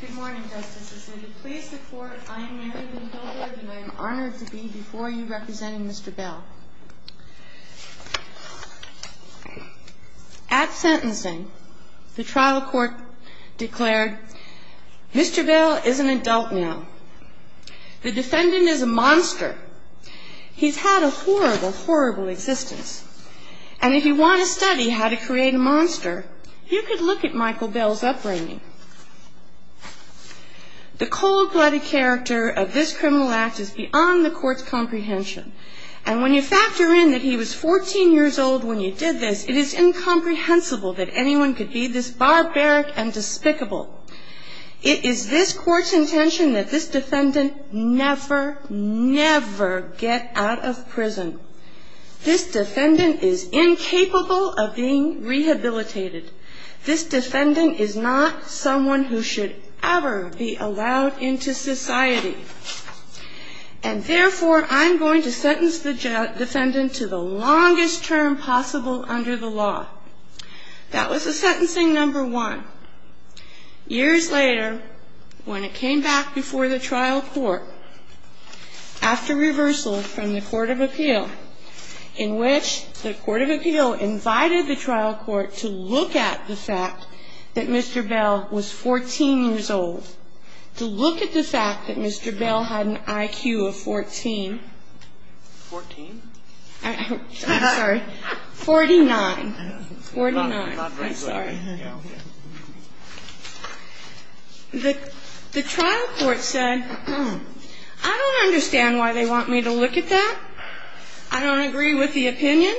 Good morning, Justices. Will you please report? I am Mary Lynn Bilberg and I am honored to be before you representing Mr. Bell. At sentencing, the trial court declared, Mr. Bell is an adult now. The defendant is a monster. He's had a horrible, horrible existence. And if you want to study how to create a monster, you could look at Michael Bell's upbringing. The cold-blooded character of this criminal act is beyond the court's comprehension. And when you factor in that he was 14 years old when you did this, it is incomprehensible that anyone could be this barbaric and despicable. It is this court's intention that this defendant never, never get out of prison. This defendant is incapable of being rehabilitated. This defendant is not someone who should ever be allowed into society. And therefore, I'm going to sentence the defendant to the longest term possible under the law. That was the sentencing number one. Years later, when it came back before the trial court, after reversal from the court of appeal, in which the court of appeal invited the trial court to look at the fact that Mr. Bell was 14 years old, to look at the fact that Mr. Bell had an IQ of 14. I'm sorry. 49. 49. I'm sorry. The trial court said, I don't understand why they want me to look at that. I don't agree with the opinion.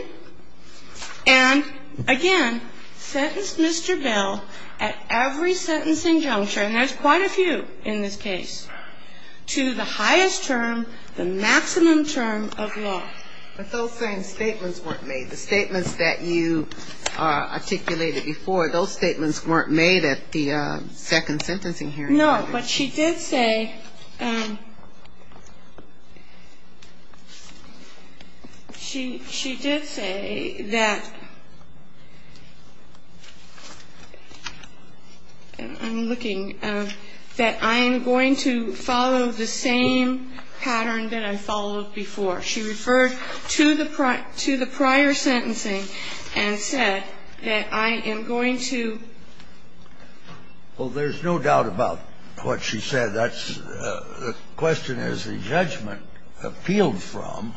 And again, sentenced Mr. Bell at every sentencing juncture, and there's quite a few in this case, to the highest term, the maximum term of law. But those same statements weren't made. The statements that you articulated before, those statements weren't made at the second sentencing hearing. No, but she did say, she did say that, I'm looking, that I am going to follow the same pattern that I followed before. She referred to the prior sentencing and said that I am going to. Well, there's no doubt about what she said. The question is the judgment appealed from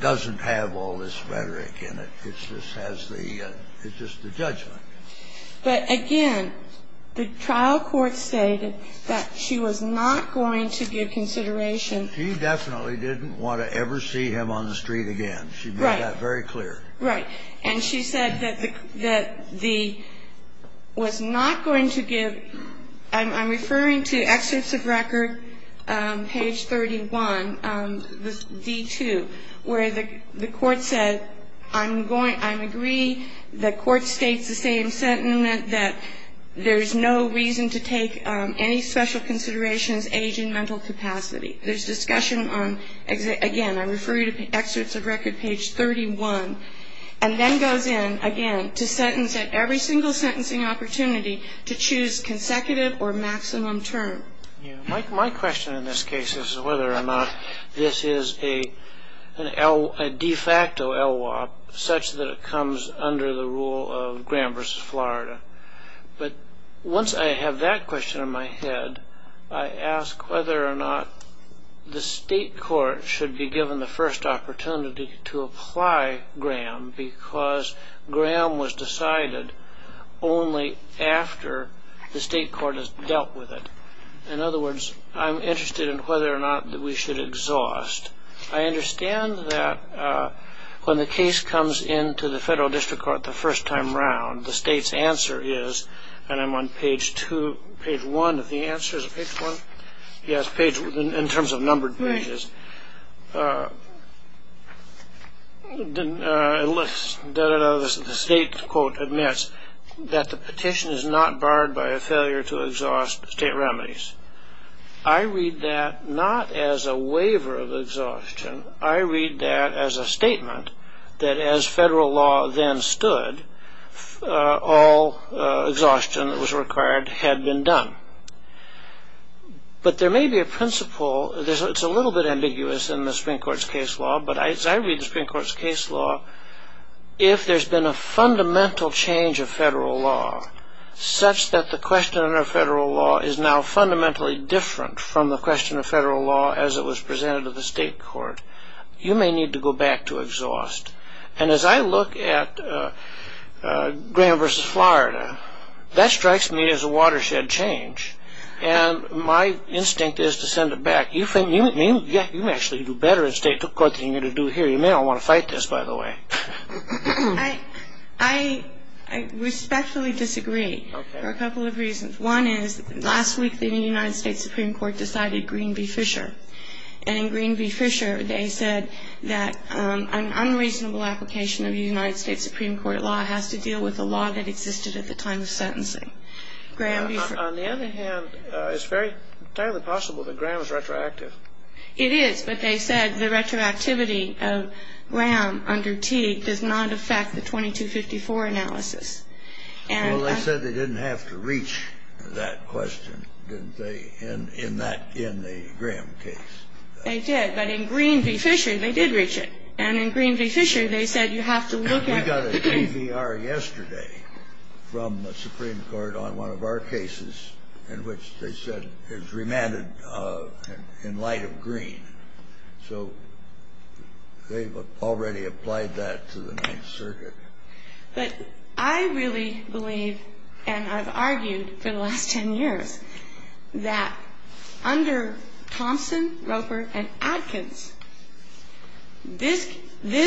doesn't have all this rhetoric in it. It just has the judgment. But again, the trial court stated that she was not going to give consideration. She definitely didn't want to ever see him on the street again. Right. She made that very clear. Right. And she said that the, was not going to give, I'm referring to excerpts of record, page 31, D2, where the court said, I'm going, I agree the court states the same sentiment that there's no reason to take any special considerations, age and mental capacity. There's discussion on, again, I refer you to excerpts of record, page 31. And then goes in, again, to sentence at every single sentencing opportunity to choose consecutive or maximum term. My question in this case is whether or not this is a de facto LWOP such that it comes under the rule of Graham v. Florida. But once I have that question in my head, I ask whether or not the state court should be given the first opportunity to apply Graham because Graham was decided only after the state court has dealt with it. In other words, I'm interested in whether or not we should exhaust. I understand that when the case comes into the federal district court the first time around, the state's answer is, and I'm on page two, page one of the answers, page one? Yes, page, in terms of numbered pages. Right. The state quote admits that the petition is not barred by a failure to exhaust state remedies. I read that not as a waiver of exhaustion. I read that as a statement that as federal law then stood, all exhaustion that was required had been done. But there may be a principle, it's a little bit ambiguous in the Supreme Court's case law, but as I read the Supreme Court's case law, if there's been a fundamental change of federal law such that the question of federal law is now fundamentally different from the question of federal law as it was presented to the state court, you may need to go back to exhaust. And as I look at Graham v. Florida, that strikes me as a watershed change. And my instinct is to send it back. You may actually do better in state court than you do here. You may not want to fight this, by the way. I respectfully disagree for a couple of reasons. One is last week the United States Supreme Court decided Green v. Fisher. And in Green v. Fisher, they said that an unreasonable application of a United States Supreme Court law has to deal with a law that existed at the time of sentencing. On the other hand, it's very highly possible that Graham is retroactive. It is, but they said the retroactivity of Graham under Teague does not affect the 2254 analysis. Well, they said they didn't have to reach that question, didn't they, in the Graham case. They did. But in Green v. Fisher, they did reach it. And in Green v. Fisher, they said you have to look at it. We got a TBR yesterday from the Supreme Court on one of our cases in which they said is remanded in light of Green. So they've already applied that to the Ninth Circuit. But I really believe, and I've argued for the last 10 years, that under Thompson, Roper, and Adkins, this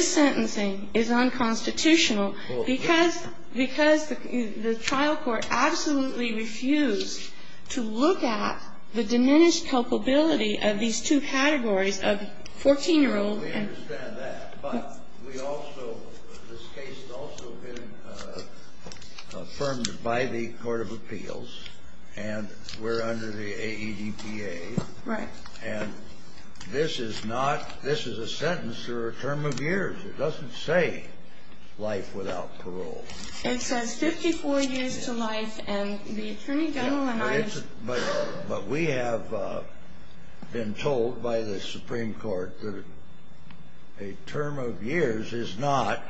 sentencing is unconstitutional because the trial court absolutely refused to look at the diminished culpability of these two categories of 14-year-olds. And we understand that. But we also, this case has also been affirmed by the court of appeals. And we're under the AEDPA. Right. And this is not, this is a sentence or a term of years. It doesn't say life without parole. It says 54 years to life. And the Attorney General and I. But we have been told by the Supreme Court that a term of years is not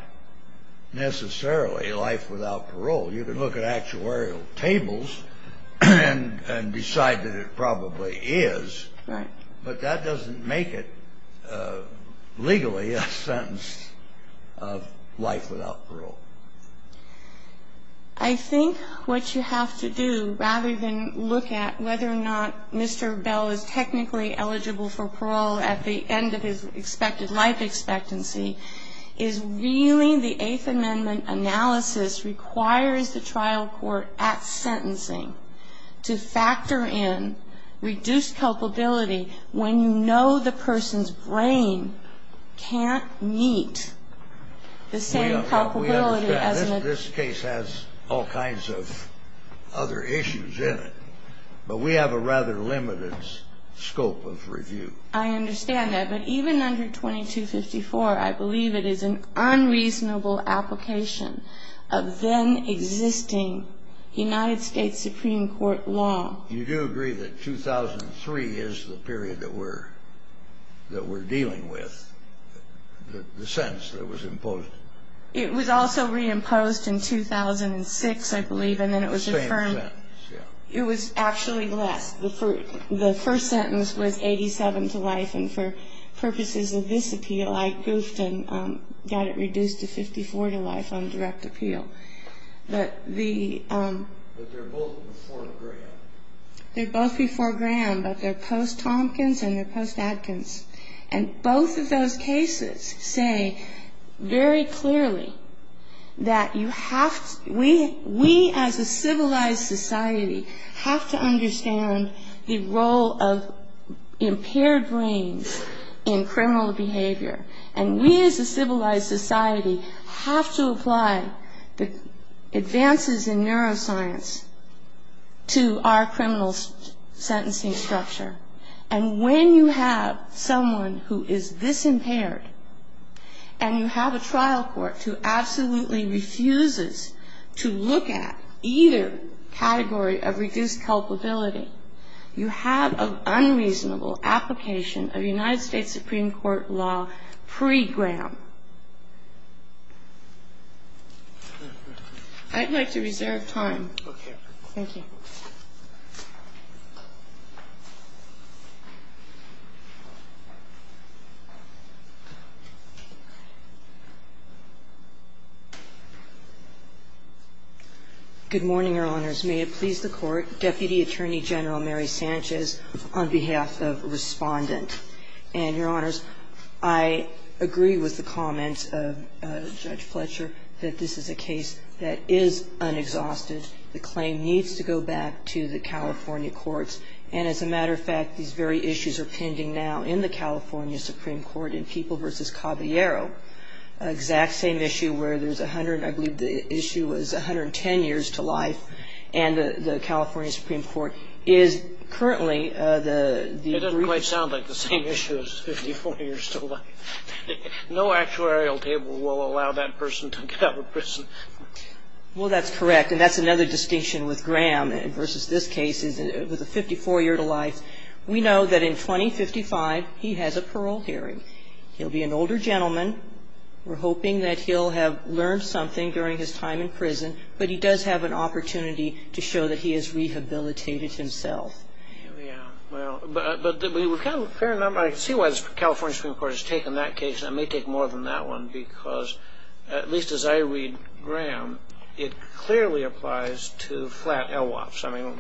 necessarily life without parole. You can look at actuarial tables and decide that it probably is. Right. But that doesn't make it legally a sentence of life without parole. I think what you have to do, rather than look at whether or not Mr. Bell is technically eligible for parole at the end of his expected life expectancy, is really the Eighth Amendment analysis requires the trial court at sentencing to factor in reduced culpability when you know the person's brain can't meet the same culpability as an adult. We understand. This case has all kinds of other issues in it. But we have a rather limited scope of review. I understand that. But even under 2254, I believe it is an unreasonable application of then-existing United States Supreme Court law. You do agree that 2003 is the period that we're dealing with, the sentence that was imposed? It was also reimposed in 2006, I believe, and then it was affirmed. Same sentence, yeah. It was actually less. The first sentence was 87 to life. And for purposes of this appeal, I goofed and got it reduced to 54 to life on direct appeal. But the ‑‑ But they're both before Graham. They're both before Graham, but they're post-Tompkins and they're post-Adkins. And both of those cases say very clearly that you have to ‑‑ we, as a civilized society, have to understand the role of impaired brains in criminal behavior. And we, as a civilized society, have to apply the advances in neuroscience to our criminal sentencing structure. And when you have someone who is this impaired and you have a trial court who absolutely refuses to look at either category of reduced culpability, you have an unreasonable application of United States Supreme Court law pre-Graham. I'd like to reserve time. Okay. Thank you. Good morning, Your Honors. May it please the Court, Deputy Attorney General Mary Sanchez on behalf of Respondent. And, Your Honors, I agree with the comments of Judge Fletcher that this is a case that is unexhausted. The claim needs to go back to the California courts. And, as a matter of fact, these very issues are pending now in the California Supreme Court in People v. Caballero. An exact same issue where there's a hundred and I believe the issue was 110 years to life. And the California Supreme Court is currently the... It doesn't quite sound like the same issue as 54 years to life. No actuarial table will allow that person to get out of prison. Well, that's correct. And that's another distinction with Graham versus this case. It was a 54 year to life. We know that in 2055, he has a parole hearing. He'll be an older gentleman. We're hoping that he'll have learned something during his time in prison. But he does have an opportunity to show that he has rehabilitated himself. Yeah. Well, but we've got a fair number. I can see why the California Supreme Court has taken that case. And it may take more than that one because, at least as I read Graham, it clearly applies to flat LWOPs. I mean,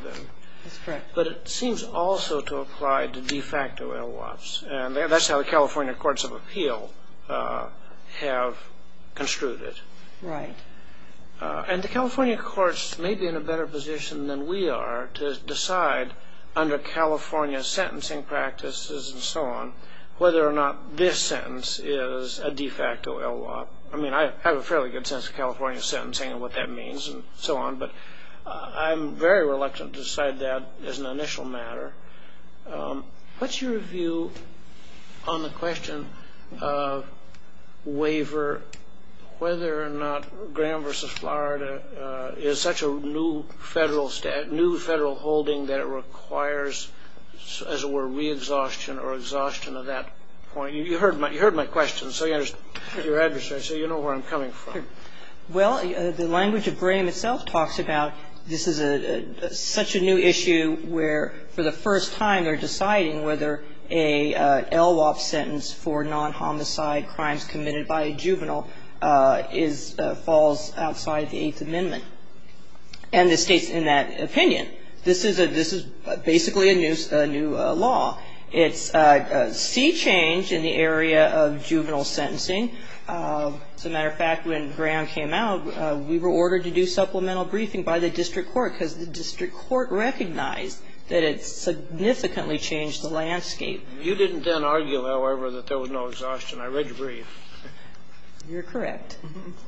but it seems also to apply to de facto LWOPs. And that's how the California Courts of Appeal have construed it. Right. And the California courts may be in a better position than we are to decide under California sentencing practices and so on whether or not this sentence is a de facto LWOP. I mean, I have a fairly good sense of California sentencing and what that means and so on, but I'm very reluctant to decide that as an initial matter. What's your view on the question of waiver, whether or not Graham v. Florida is such a new federal holding that it requires, as it were, re-exhaustion or exhaustion of that point? You heard my question, so you understand, so you know where I'm coming from. Well, the language of Graham itself talks about this is such a new issue where for the first time they're deciding whether a LWOP sentence for non-homicide crimes committed by a juvenile falls outside the Eighth Amendment. And it states in that opinion, this is basically a new law. It's a sea change in the area of juvenile sentencing. As a matter of fact, when Graham came out, we were ordered to do supplemental briefing by the district court because the district court recognized that it significantly changed the landscape. You didn't then argue, however, that there was no exhaustion. I read your brief. You're correct.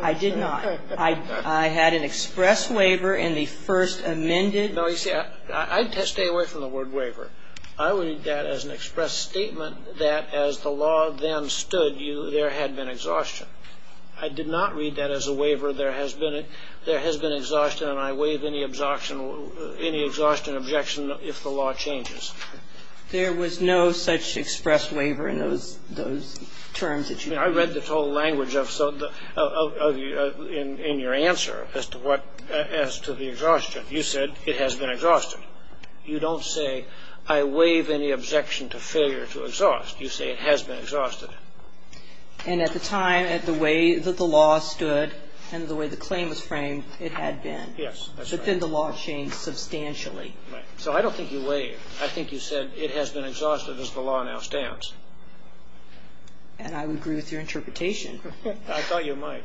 I did not. I had an express waiver in the first amended. No, you see, I'd stay away from the word waiver. I would read that as an express statement that as the law then stood, there had been exhaustion. I did not read that as a waiver. There has been exhaustion and I waive any exhaustion objection if the law changes. There was no such express waiver in those terms that you gave. I read the total language in your answer as to the exhaustion. You said it has been exhausted. You don't say I waive any objection to failure to exhaust. You say it has been exhausted. And at the time, the way that the law stood and the way the claim was framed, it had been. Yes, that's right. But then the law changed substantially. Right. So I don't think you waived. I think you said it has been exhausted as the law now stands. And I would agree with your interpretation. I thought you might.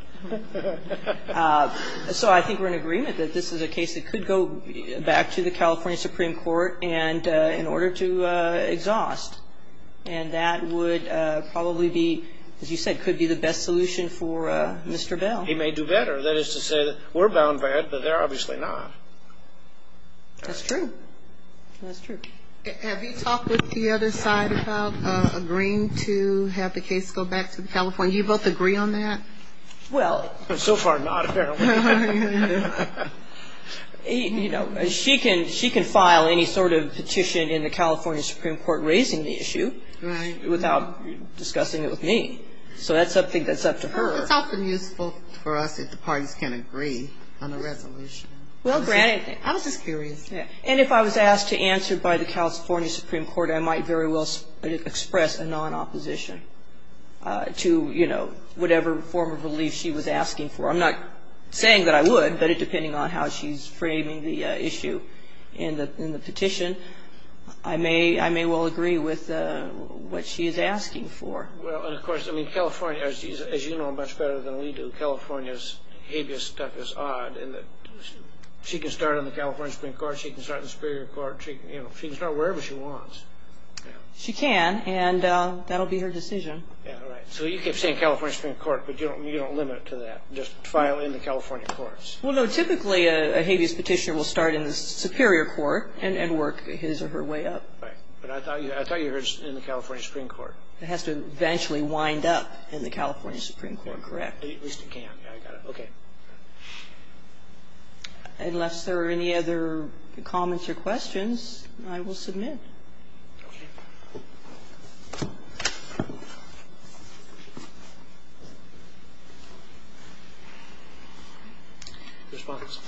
So I think we're in agreement that this is a case that could go back to the California Supreme Court in order to exhaust. And that would probably be, as you said, could be the best solution for Mr. Bell. He may do better. That is to say that we're bound by it, but they're obviously not. That's true. That's true. Have you talked with the other side about agreeing to have the case go back to California? Do you both agree on that? So far, not apparently. You know, she can file any sort of petition in the California Supreme Court raising the issue without discussing it with me. So that's something that's up to her. It's often useful for us if the parties can agree on a resolution. Well, granted. I was just curious. And if I was asked to answer by the California Supreme Court, I might very well express a non-opposition to, you know, whatever form of relief she was asking for. I'm not saying that I would, but depending on how she's framing the issue in the petition, I may well agree with what she is asking for. Well, and of course, I mean, California, as you know much better than we do, California's habeas stuff is odd in that she can start on the California Supreme Court, she can start in the Superior Court, you know, she can start wherever she wants. She can, and that will be her decision. So you keep saying California Supreme Court, but you don't limit it to that. Just file in the California courts. Well, no, typically a habeas petitioner will start in the Superior Court and work his or her way up. Right. But I thought you were in the California Supreme Court. It has to eventually wind up in the California Supreme Court, correct? At least it can. I got it. Okay. Unless there are any other comments or questions, I will submit. Okay. Ms. Fischer.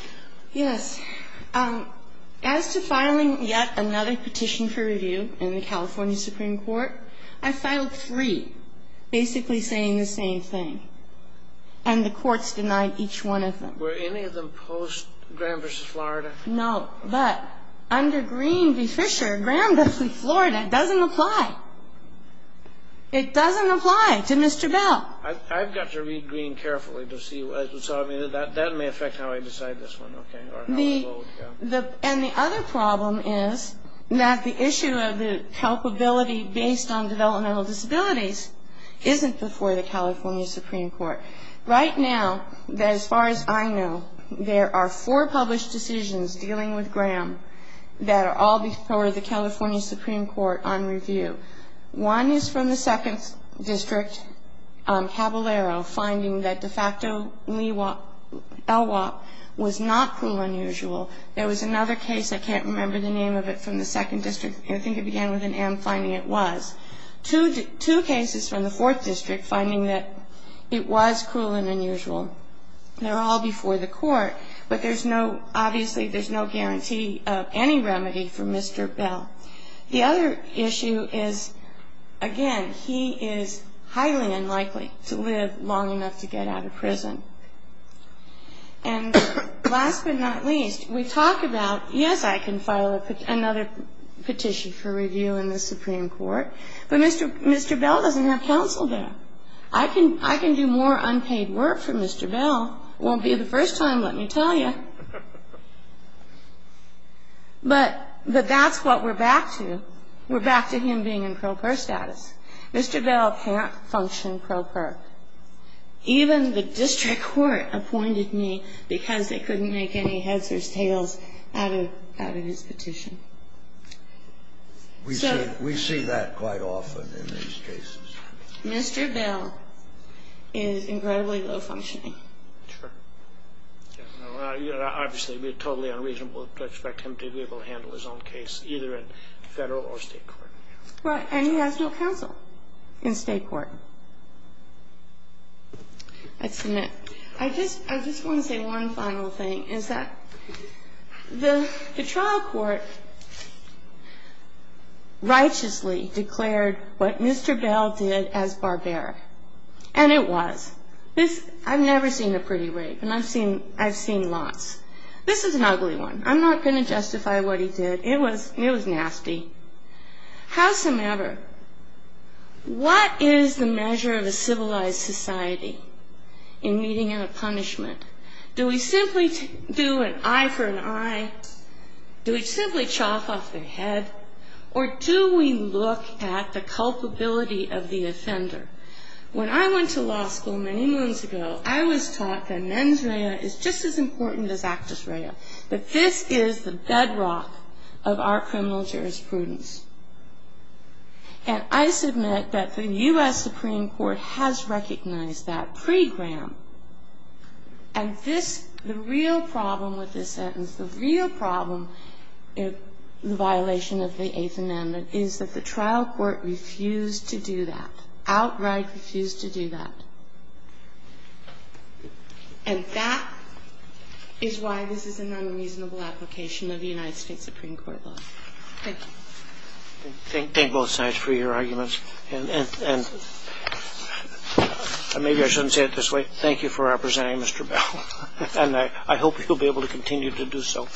Yes. As to filing yet another petition for review in the California Supreme Court, I filed three basically saying the same thing, and the courts denied each one of them. Were any of them post-Graham v. Florida? No. But under Green v. Fisher, Graham v. Florida doesn't apply. It doesn't apply. It doesn't apply to Mr. Bell. I've got to read Green carefully to see. So, I mean, that may affect how I decide this one, okay, or how we vote. And the other problem is that the issue of the helpability based on developmental disabilities isn't before the California Supreme Court. Right now, as far as I know, there are four published decisions dealing with Graham that are all before the California Supreme Court on review. One is from the second district, Caballero, finding that de facto LWOP was not cruel and unusual. There was another case, I can't remember the name of it, from the second district, and I think it began with an M, finding it was. Two cases from the fourth district finding that it was cruel and unusual. They're all before the court, but there's no, obviously there's no guarantee of any remedy for Mr. Bell. The other issue is, again, he is highly unlikely to live long enough to get out of prison. And last but not least, we talk about, yes, I can file another petition for review in the Supreme Court, but Mr. Bell doesn't have counsel there. I can do more unpaid work for Mr. Bell. It won't be the first time, let me tell you. But that's what we're back to. We're back to him being in pro per status. Mr. Bell can't function pro per. Even the district court appointed me because they couldn't make any heads or tails out of his petition. So we see that quite often in these cases. Mr. Bell is incredibly low-functioning. Obviously, it would be totally unreasonable to expect him to be able to handle his own case, either in Federal or State court. Right. And he has no counsel in State court. I submit. I just want to say one final thing, is that the trial court righteously declared what Mr. Bell did as barbaric, and it was. I've never seen a pretty rape, and I've seen lots. This is an ugly one. I'm not going to justify what he did. It was nasty. How's the matter? What is the measure of a civilized society in meeting a punishment? Do we simply do an eye for an eye? Do we simply chop off their head? Or do we look at the culpability of the offender? When I went to law school many months ago, I was taught that mens rea is just as important as actus rea, that this is the bedrock of our criminal jurisprudence. And I submit that the U.S. Supreme Court has recognized that pre-Graham. And the real problem with this sentence, the real problem, the violation of the Eighth Amendment, is that the trial court refused to do that, outright refused to do that. And that is why this is an unreasonable application of the United States Supreme Court law. Thank you. Thank both sides for your arguments. And maybe I shouldn't say it this way. Thank you for representing Mr. Bell. And I hope he'll be able to continue to do so.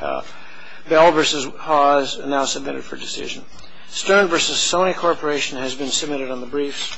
Bell v. Haw is now submitted for decision. Stern v. Sony Corporation has been submitted on the briefs.